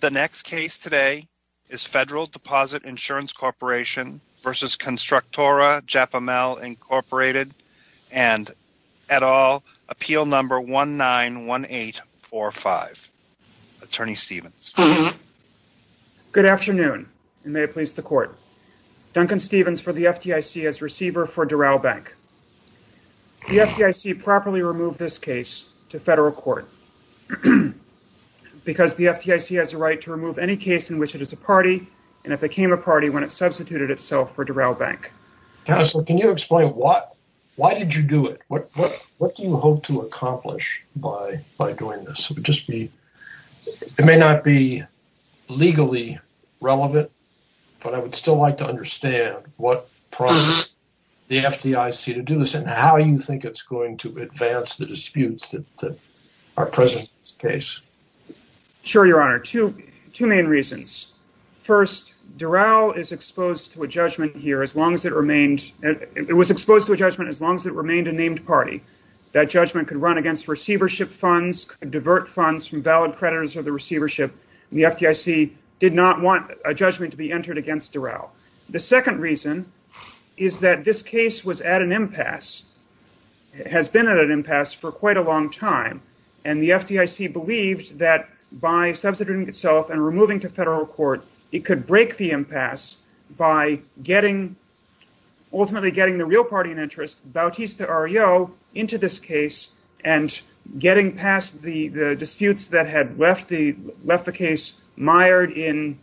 The next case today is Federal Deposit Insurance Corporation v. Constructora Japimel, Inc. and et al. appeal number 191845. Attorney Stevens. Good afternoon and may it please the court. Duncan Stevens for the FDIC as receiver for remove any case in which it is a party and it became a party when it substituted itself for Doral Bank. Counselor, can you explain why did you do it? What do you hope to accomplish by doing this? It may not be legally relevant, but I would still like to understand what prompted the FDIC to do this and how you think it's going to advance the disputes that are present in this case. Sure, Your Honor. Two main reasons. First, Doral is exposed to a judgment here as long as it remained a named party. That judgment could run against receivership funds, divert funds from valid creditors of the receivership. The FDIC did not want a judgment to be entered against Doral. The second reason is that this case was at an impasse. It has been at an impasse for quite a that by substituting itself and removing to federal court, it could break the impasse by ultimately getting the real party in interest, Bautista Arreo, into this case and getting past the disputes that had left the case, mired at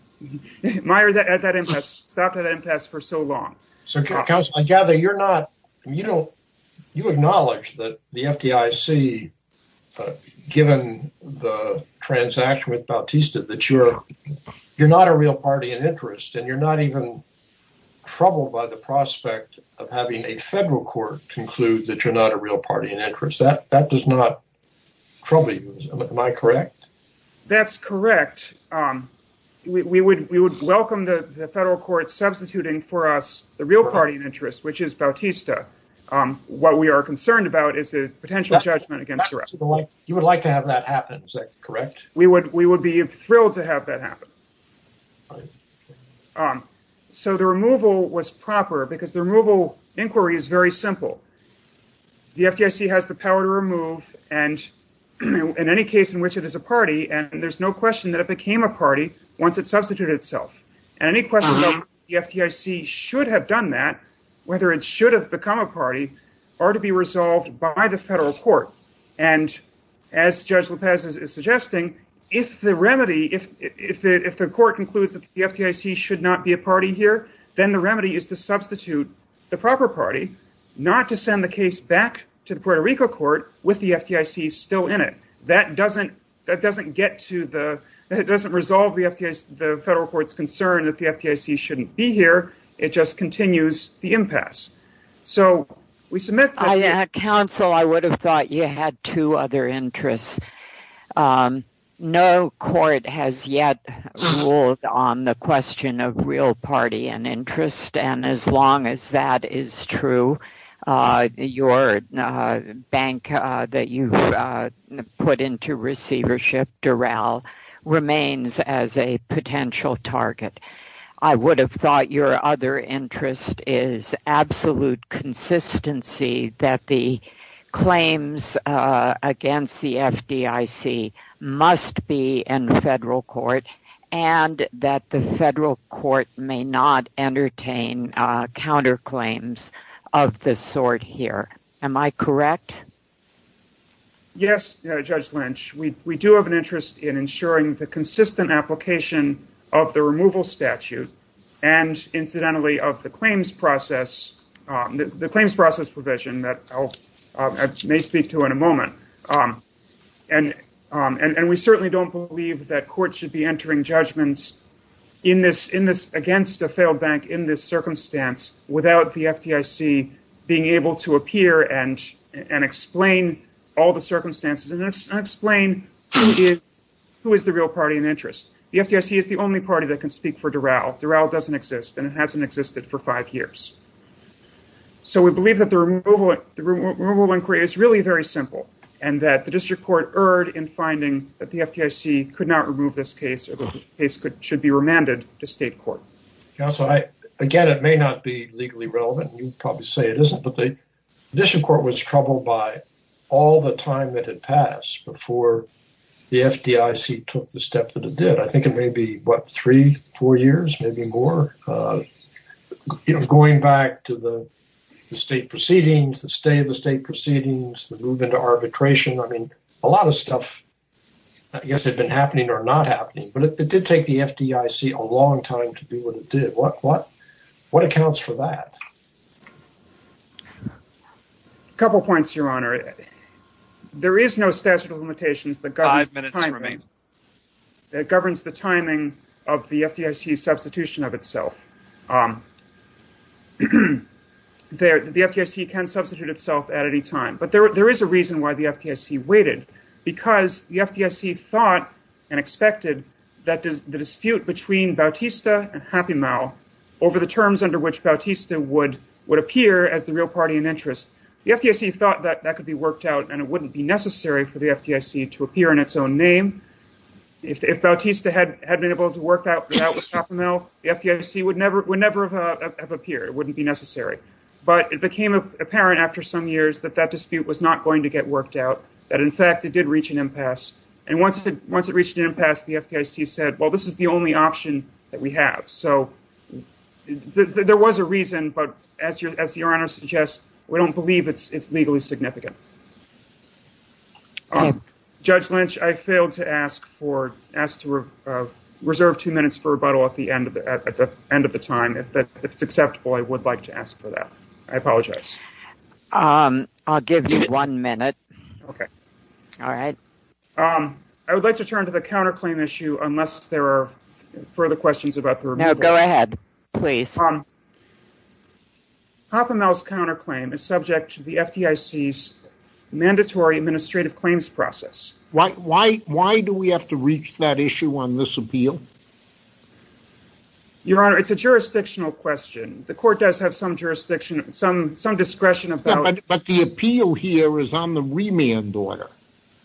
that impasse, stopped at that impasse for so long. So, counsel, I gather you're not, you don't, you acknowledge that the FDIC, given the transaction with Bautista, that you're not a real party in interest and you're not even troubled by the prospect of having a federal court conclude that you're not a real party in interest. That does not trouble you. Am I correct? That's correct. We would welcome the real party in interest, which is Bautista. What we are concerned about is a potential judgment against Doral. You would like to have that happen, is that correct? We would be thrilled to have that happen. So, the removal was proper because the removal inquiry is very simple. The FDIC has the power to remove and in any case in which it is a party and there's no question that it became a whether it should have become a party or to be resolved by the federal court. And as Judge Lopez is suggesting, if the remedy, if the court concludes that the FDIC should not be a party here, then the remedy is to substitute the proper party, not to send the case back to the Puerto Rico court with the FDIC still in it. That doesn't get to the, that doesn't resolve the FDIC, the federal court's concern that the FDIC shouldn't be here. It just continues the impasse. Counsel, I would have thought you had two other interests. No court has yet ruled on the question of real party and interest and as long as that is true, your bank that you put into receivership, Durrell, remains as a potential target. I would have thought your other interest is absolute consistency that the claims against the FDIC must be in the federal court and that the federal court may not entertain counterclaims of this sort here. Am I correct? Yes, Judge Lynch. We do have an interest in ensuring the consistent application of the removal statute and incidentally of the claims process, the claims process provision that I may speak to in a moment. And we certainly don't believe that court should be entering judgments in this, in this, against a failed bank in this being able to appear and explain all the circumstances and explain who is the real party and interest. The FDIC is the only party that can speak for Durrell. Durrell doesn't exist and it hasn't existed for five years. So we believe that the removal inquiry is really very simple and that the district court erred in finding that the FDIC could not remove this case or the case could, should be remanded to state court. Counsel, I, again, it may not be legally relevant and you'd probably say it isn't, but the district court was troubled by all the time that had passed before the FDIC took the step that it did. I think it may be what, three, four years, maybe more, you know, going back to the state proceedings, the state of the state proceedings, the move into arbitration. I mean, a lot of stuff I guess had been happening or not happening, but it did take the FDIC a long time to do what it did. What, what, what accounts for that? A couple of points, your honor. There is no statute of limitations that governs the timing of the FDIC substitution of itself. The FDIC can substitute itself at any time, but there, there is a reason why the FDIC waited because the FDIC thought and expected that the dispute between Bautista and Happimal over the terms under which Bautista would, would appear as the real party in interest, the FDIC thought that that could be worked out and it wouldn't be necessary for the FDIC to appear in its own name. If, if Bautista had, had been able to work that out with Happimal, the FDIC would never, would never have appeared. It wouldn't be necessary, but it became apparent after some years that that dispute was not going to get worked out. That in fact, it did reach an impasse. And once it, once it reached an impasse, the FDIC said, well, this is the only option that we have. So there was a reason, but as your, as your honor suggests, we don't believe it's, it's legally significant. Judge Lynch, I failed to ask for, ask to reserve two minutes for rebuttal at the end of the, at the end of the time. If that's acceptable, I would like to ask for that. I apologize. I'll give you one minute. Okay. All right. Um, I would like to turn to the counterclaim issue unless there are further questions about the removal. No, go ahead, please. Um, Happimal's counterclaim is subject to the FDIC's mandatory administrative claims process. Why, why, why do we have to reach that issue on this appeal? Your honor, it's a jurisdictional question. The court does have some jurisdiction, some, some discretion about. Yeah, but, but the appeal here is on the remand order.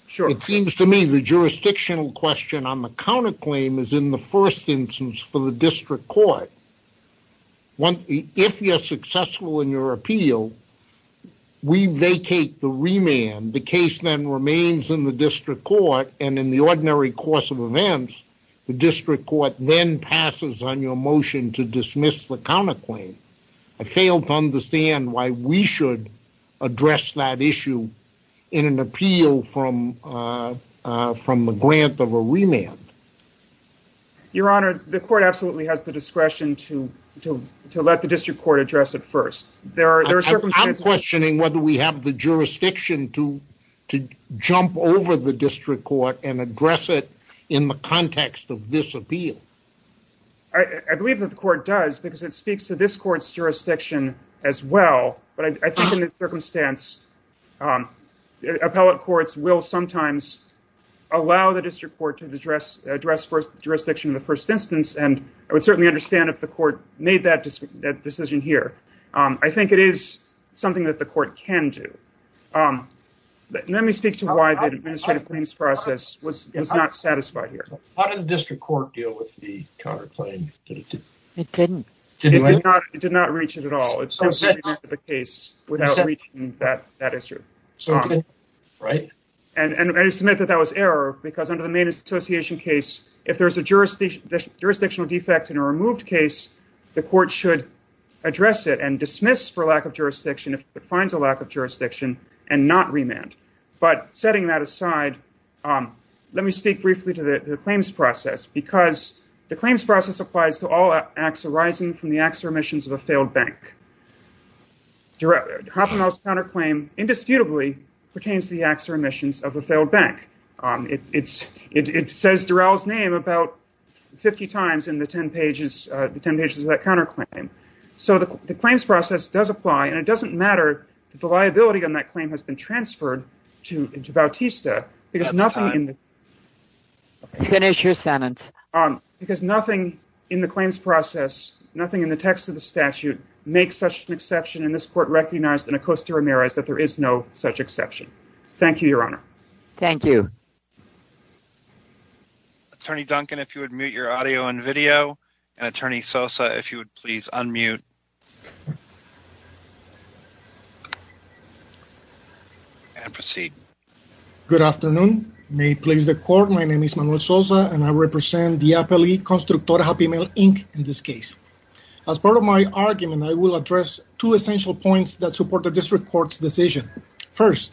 Sure. It seems to me the jurisdictional question on the counterclaim is in the first instance for the district court. If you're successful in your appeal, we vacate the remand. The case then remains in the district court and in the ordinary course of events, the district court then passes on your motion to dismiss the counterclaim. I failed to understand why we should address that issue in an appeal from, uh, uh, from the grant of a remand. Your honor, the court absolutely has the discretion to, to, to let the district court address it first. There are, there are circumstances. I'm questioning whether we have the jurisdiction to, to jump over the district court and address it in the context of this appeal. I believe that the court does because it speaks to this court's jurisdiction as well, but I think in this circumstance, um, appellate courts will sometimes allow the district court to address, address for jurisdiction in the first instance. And I would certainly understand if the court made that decision here. Um, I think it is something that the court can do. Um, let me speak to why the administrative claims process was not satisfied here. How did the district court deal with the counterclaim? It didn't, it did not, it did not reach it at all. It's the case without that, that issue. Right. And I just submit that that was error because under the main association case, if there's a jurisdiction, jurisdictional defects in a removed case, the court should address it and dismiss for lack of jurisdiction. If it finds a lack of jurisdiction and not remand, but setting that aside, um, let me speak briefly to the claims process because the claims process applies to all acts arising from the acts or emissions of a failed bank. Happen else counterclaim indisputably pertains to the acts or emissions of the failed bank. Um, it's, it's, it says Daryl's name about 50 times in the 10 pages, uh, the 10 pages of that counterclaim. So the claims process does apply and it doesn't matter that the liability on that transferred to, to Bautista because nothing in the finish your sentence, um, because nothing in the claims process, nothing in the text of the statute makes such an exception in this court recognized in a Costa Ramirez that there is no such exception. Thank you, your honor. Thank you. Attorney Duncan, if you would mute your audio and video and attorney Sosa, if you would please unmute and proceed. Good afternoon. May please the court. My name is Manuel Sosa and I represent the appellee constructor happy mail Inc. In this case, as part of my argument, I will address two essential points that support the district court's decision. First,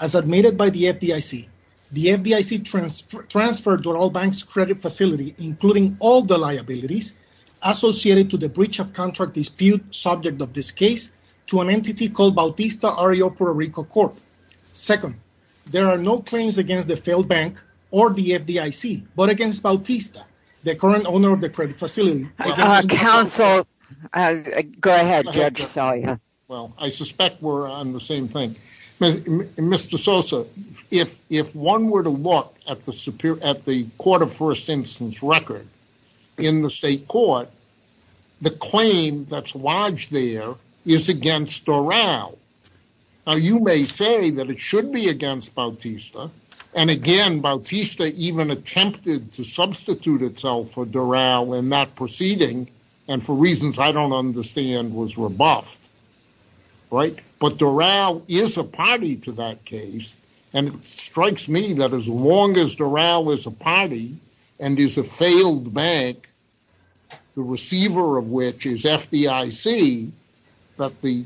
as admitted by the FDIC, the FDIC transfer transferred to all banks credit facility, including all the liabilities associated to the breach of contract dispute subject of this case to an entity called Bautista REO Puerto Rico Corp. Second, there are no claims against the failed bank or the FDIC, but against Bautista, the current owner of the credit facility council. Go ahead. Well, I suspect we're on the same thing. Mr. Sosa, if one were to look at the court of first instance record in the state court, the claim that's lodged there is against Doral. Now you may say that it should be against Bautista. And again, Bautista even attempted to substitute itself for Doral in that proceeding. And for reasons I don't understand was rebuffed, right? But Doral is a party to that case. And it strikes me that as long as Doral is a party and is a failed bank, the receiver of which is FDIC, that the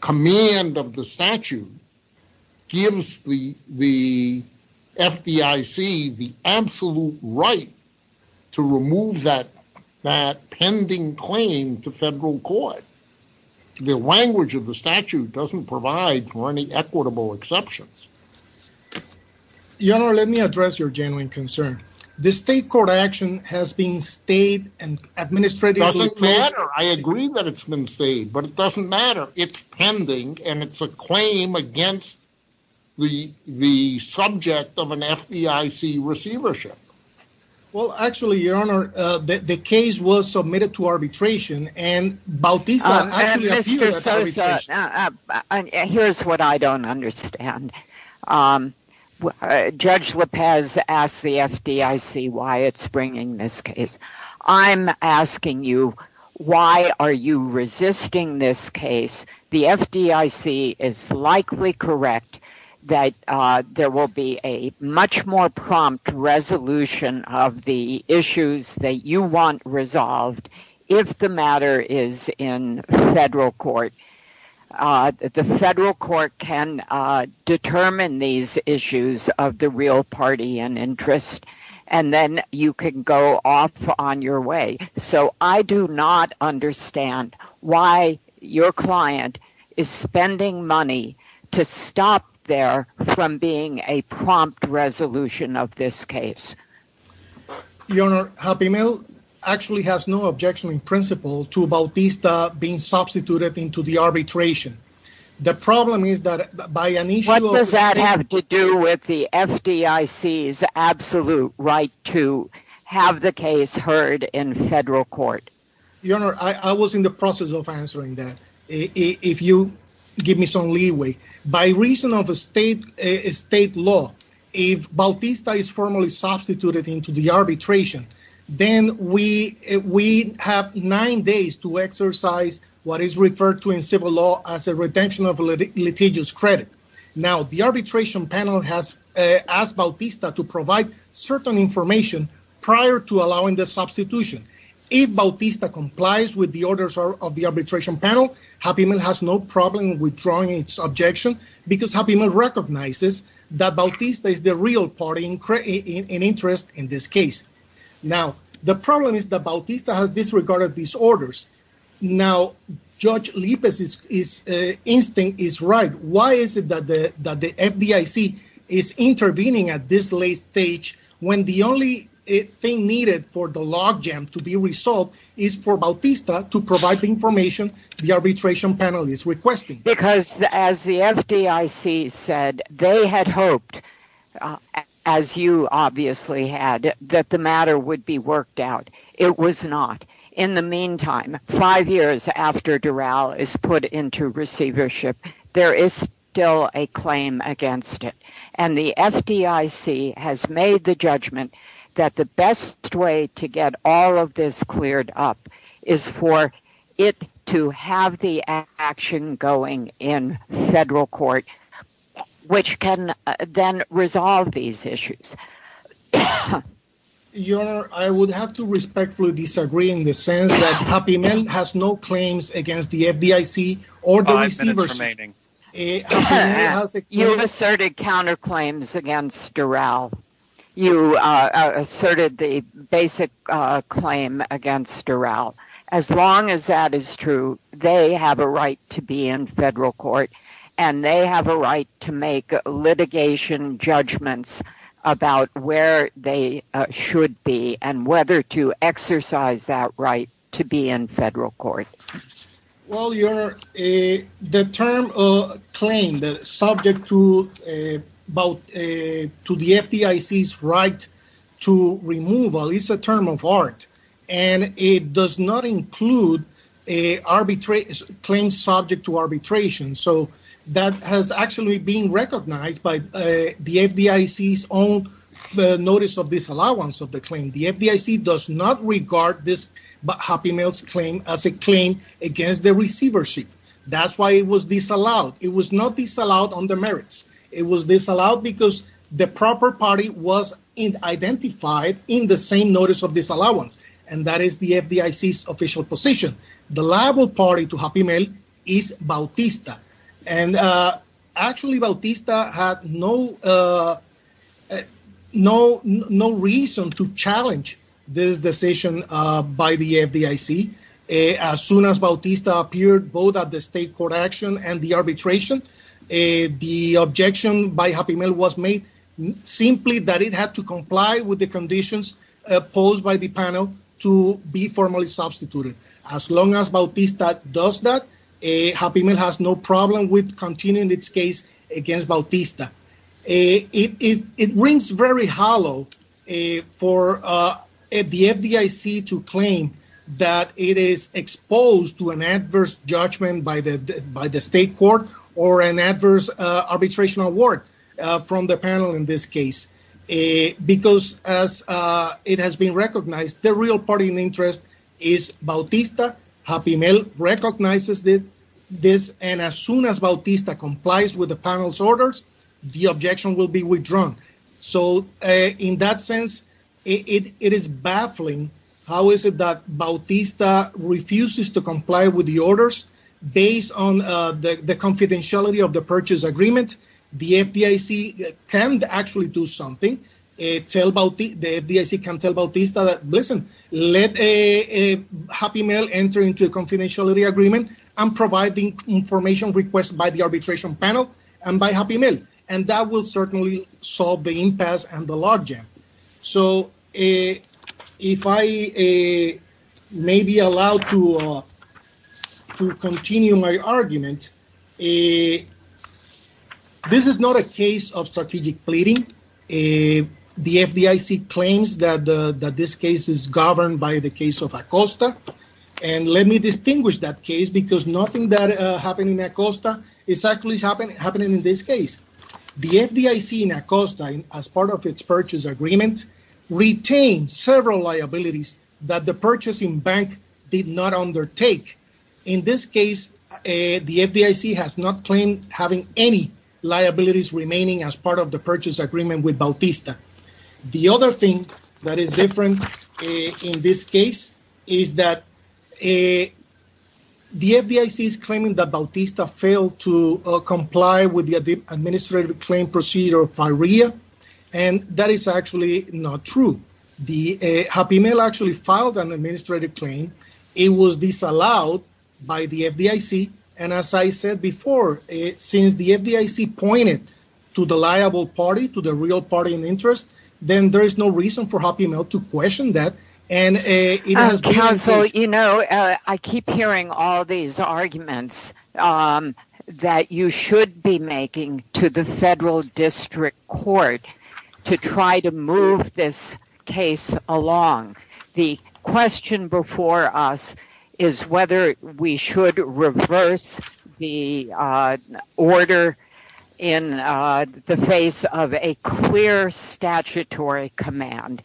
command of the statute gives the FDIC the absolute right to remove that pending claim to federal court. The language of the statute doesn't provide for any equitable exceptions. Your Honor, let me address your genuine concern. This state court action has been stayed and administratively. It doesn't matter. I agree that it's been stayed, but it doesn't matter. It's pending and it's a claim against the subject of an FDIC receivership. Well, actually, Your Honor, the case was submitted to arbitration and Bautista... And Mr. Sosa, here's what I don't understand. Judge Lopez asked the FDIC why it's bringing this case. I'm asking you, why are you resisting this case? The FDIC is likely correct that there will be a much more prompt resolution of the issues that you want resolved if the matter is in federal court. The federal court can determine these issues of the real party and interest. And then you can go off on your way. So I do not understand why your client is spending money to stop there from being a prompt resolution of this case. Your Honor, Happy Meal actually has no objection in principle to Bautista being substituted into arbitration. The problem is that by an issue... What does that have to do with the FDIC's absolute right to have the case heard in federal court? Your Honor, I was in the process of answering that. If you give me some leeway, by reason of a state law, if Bautista is formally as a retention of litigious credit. Now, the arbitration panel has asked Bautista to provide certain information prior to allowing the substitution. If Bautista complies with the orders of the arbitration panel, Happy Meal has no problem withdrawing its objection because Happy Meal recognizes that Bautista is the real party in interest in this case. Now, the problem is that Bautista has disregarded these orders. Now, Judge Lippes' instinct is right. Why is it that the FDIC is intervening at this late stage when the only thing needed for the log jam to be resolved is for Bautista to provide the information the arbitration panel is requesting? Because as the FDIC said, they had hoped, as you obviously had, that the matter would be worked out. It was not. In the meantime, five years after Dural is put into receivership, there is still a claim against it. And the FDIC has made the judgment that the best way to get all of this cleared up is for it to have the action going in federal court, which can then resolve these issues. Your Honor, I would have to respectfully disagree in the sense that Happy Meal has no claims against the FDIC or the receivership. You have asserted counterclaims against Dural. You asserted the basic claim against Dural. As long as that is true, they have a right to be in federal court and they have a right to make litigation judgments about where they should be and whether to exercise that right to be in federal court. Well, Your Honor, the term claim that is subject to the FDIC's right to removal is a term of art and it does not include a claim subject to arbitration. That has actually been recognized by the FDIC's own notice of disallowance of the claim. The FDIC does not regard this Happy Meal's claim as a claim against the receivership. That's why it was disallowed. It was not disallowed on the merits. It was disallowed because the proper party was identified in the same notice of disallowance and that is the FDIC's official position. The liable party to Happy Meal is Bautista. Actually, Bautista had no reason to challenge this decision by the FDIC. As soon as Bautista appeared both at the state court action and the with the conditions posed by the panel to be formally substituted. As long as Bautista does that, Happy Meal has no problem with continuing its case against Bautista. It rings very hollow for the FDIC to claim that it is exposed to an adverse judgment by the state court or an adverse arbitration award from the panel in this case. As it has been recognized, the real party in interest is Bautista. Happy Meal recognizes this and as soon as Bautista complies with the panel's orders, the objection will be withdrawn. In that sense, it is baffling how Bautista refuses to comply with the orders based on the confidentiality of the purchase agreement. The FDIC can actually do something. The FDIC can tell Bautista to let Happy Meal enter into a confidentiality agreement and provide the information requested by the arbitration panel and by Happy Meal. That will certainly solve the impasse and the logjam. If I may be allowed to continue my argument, this is not a case of strategic pleading. The FDIC claims that this case is governed by the case of Acosta. Let me distinguish that case because nothing that happened in Acosta is happening in this case. The FDIC in Acosta, as part of its purchase agreement, retained several liabilities that the purchasing bank did not undertake. In this case, the FDIC has not claimed having any liabilities remaining as part of the purchase agreement with Bautista. The other thing that is different in this case is that the FDIC is claiming that Bautista failed to comply with the administrative claim procedure of FIREA. That is actually not true. Happy Meal actually filed an administrative claim. It was disallowed by the FDIC. As I said before, since the FDIC pointed to the liable party, to the real party in interest, then there is no reason for Happy Meal to question that. Counsel, I keep hearing all these arguments that you should be making to the Federal District Court to try to move this case along. The question before us is whether we should reverse the order in the face of a clear statutory command.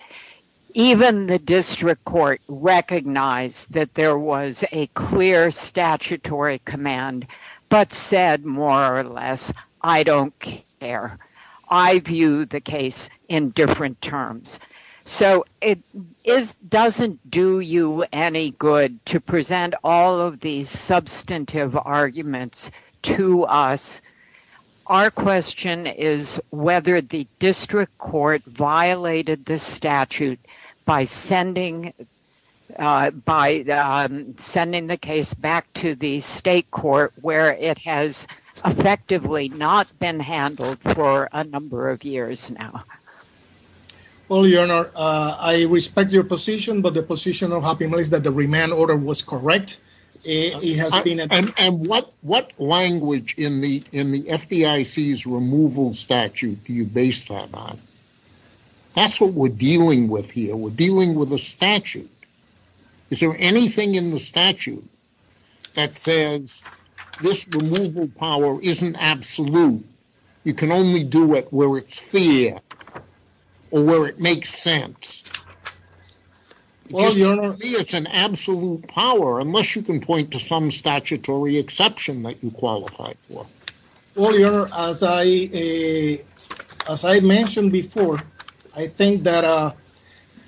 Even the District Court recognized that there was a clear statutory command but said, more or less, I don't care. I view the case in different terms. It doesn't do you any good to present all of these substantive arguments to us. Our question is whether the District Court violated the statute by sending the case back to the State Court where it has effectively not been handled for a number of years now. Well, Your Honor, I respect your position, but the position of Happy Meal is that the remand order was correct. What language in the FDIC's removal statute do you base that on? That's what we're dealing with here. We're dealing with a statute. Is there anything in the statute that says this removal power isn't absolute? You can only do it where it's fair or where it makes sense. To me, it's an absolute power unless you can point to some statutory exception that you qualify for. Well, Your Honor, as I mentioned before, I think that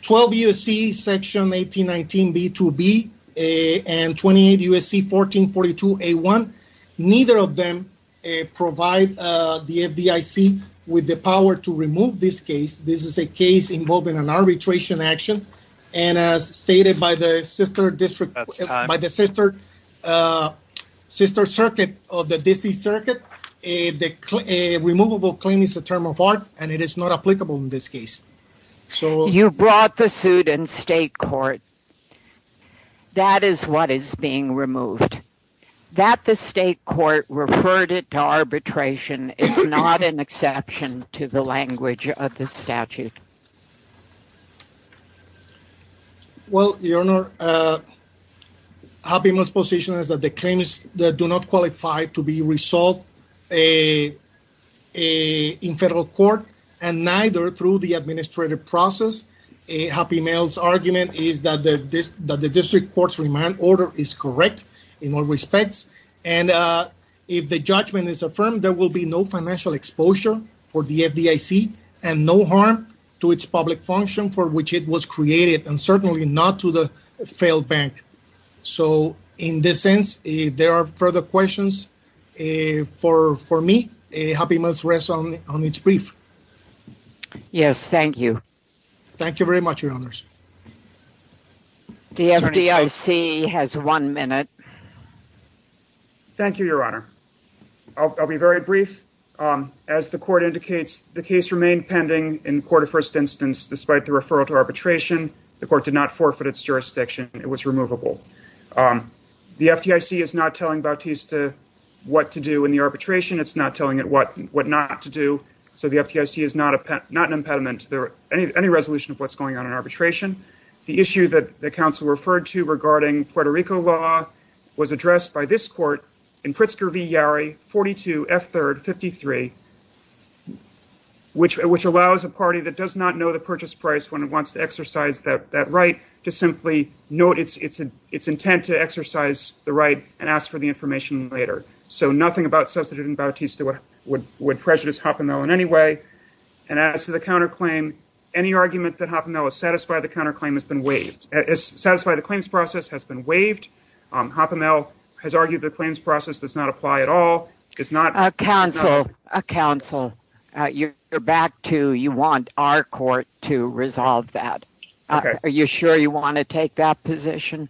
12 U.S.C. section 1819b2b and 28 U.S.C. 1442a1, neither of them provide the FDIC with the power to remove this case. This is a case involving an arbitration action, and as stated by the Sister Circuit of the D.C. Circuit, a removable claim is a term of art, and it is not applicable in this case. You brought the suit in state court. That is what is being removed. That the state court referred it to arbitration is not an exception to the language of the statute. Well, Your Honor, Happy Meal's position is that the claims that do not qualify to be resolved in federal court and neither through the administrative process. Happy Meal's argument is that the district court's remand order is correct in all respects, and if the judgment is affirmed, there will be no financial exposure for the FDIC and no harm to its public function for which it was created and certainly not to the failed bank. So, in this sense, there are further questions for me. Happy Meal's rests on its brief. Yes, thank you. Thank you very much, Your Honors. The FDIC has one minute. Thank you, Your Honor. I'll be very brief. As the court indicates, the case remained pending in court of first instance despite the referral to arbitration. The court did not forfeit its jurisdiction. It was removable. The FDIC is not telling Bautista what to do in the arbitration. It's not telling it what not to do. So, the FDIC is not an impediment to any resolution of what's going on in arbitration. The issue that the counsel referred to regarding Puerto Rico law was addressed by this court in Pritzker v. Yarry, 42, F3rd, 53, which allows a party that does not know the purchase price when it wants to exercise the right and ask for the information later. So, nothing about substituting Bautista would prejudice Happy Meal in any way. And as to the counterclaim, any argument that Happy Meal is satisfied the counterclaim has been waived. Satisfied the claims process has been waived. Happy Meal has argued the claims process does not apply at all. It's not- Counsel, you're back to you want our court to resolve that. Are you sure you want to take that position?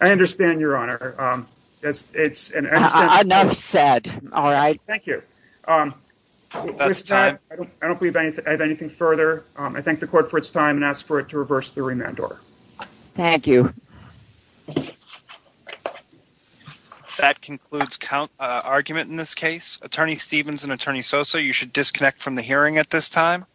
I understand, Your Honor. Enough said. All right. Thank you. That's time. I don't believe I have anything further. I thank the court for its time and ask for it to reverse the remand order. Thank you. That concludes count argument in this case. Attorney Stevens and Attorney Sosa, you should disconnect from the hearing at this time.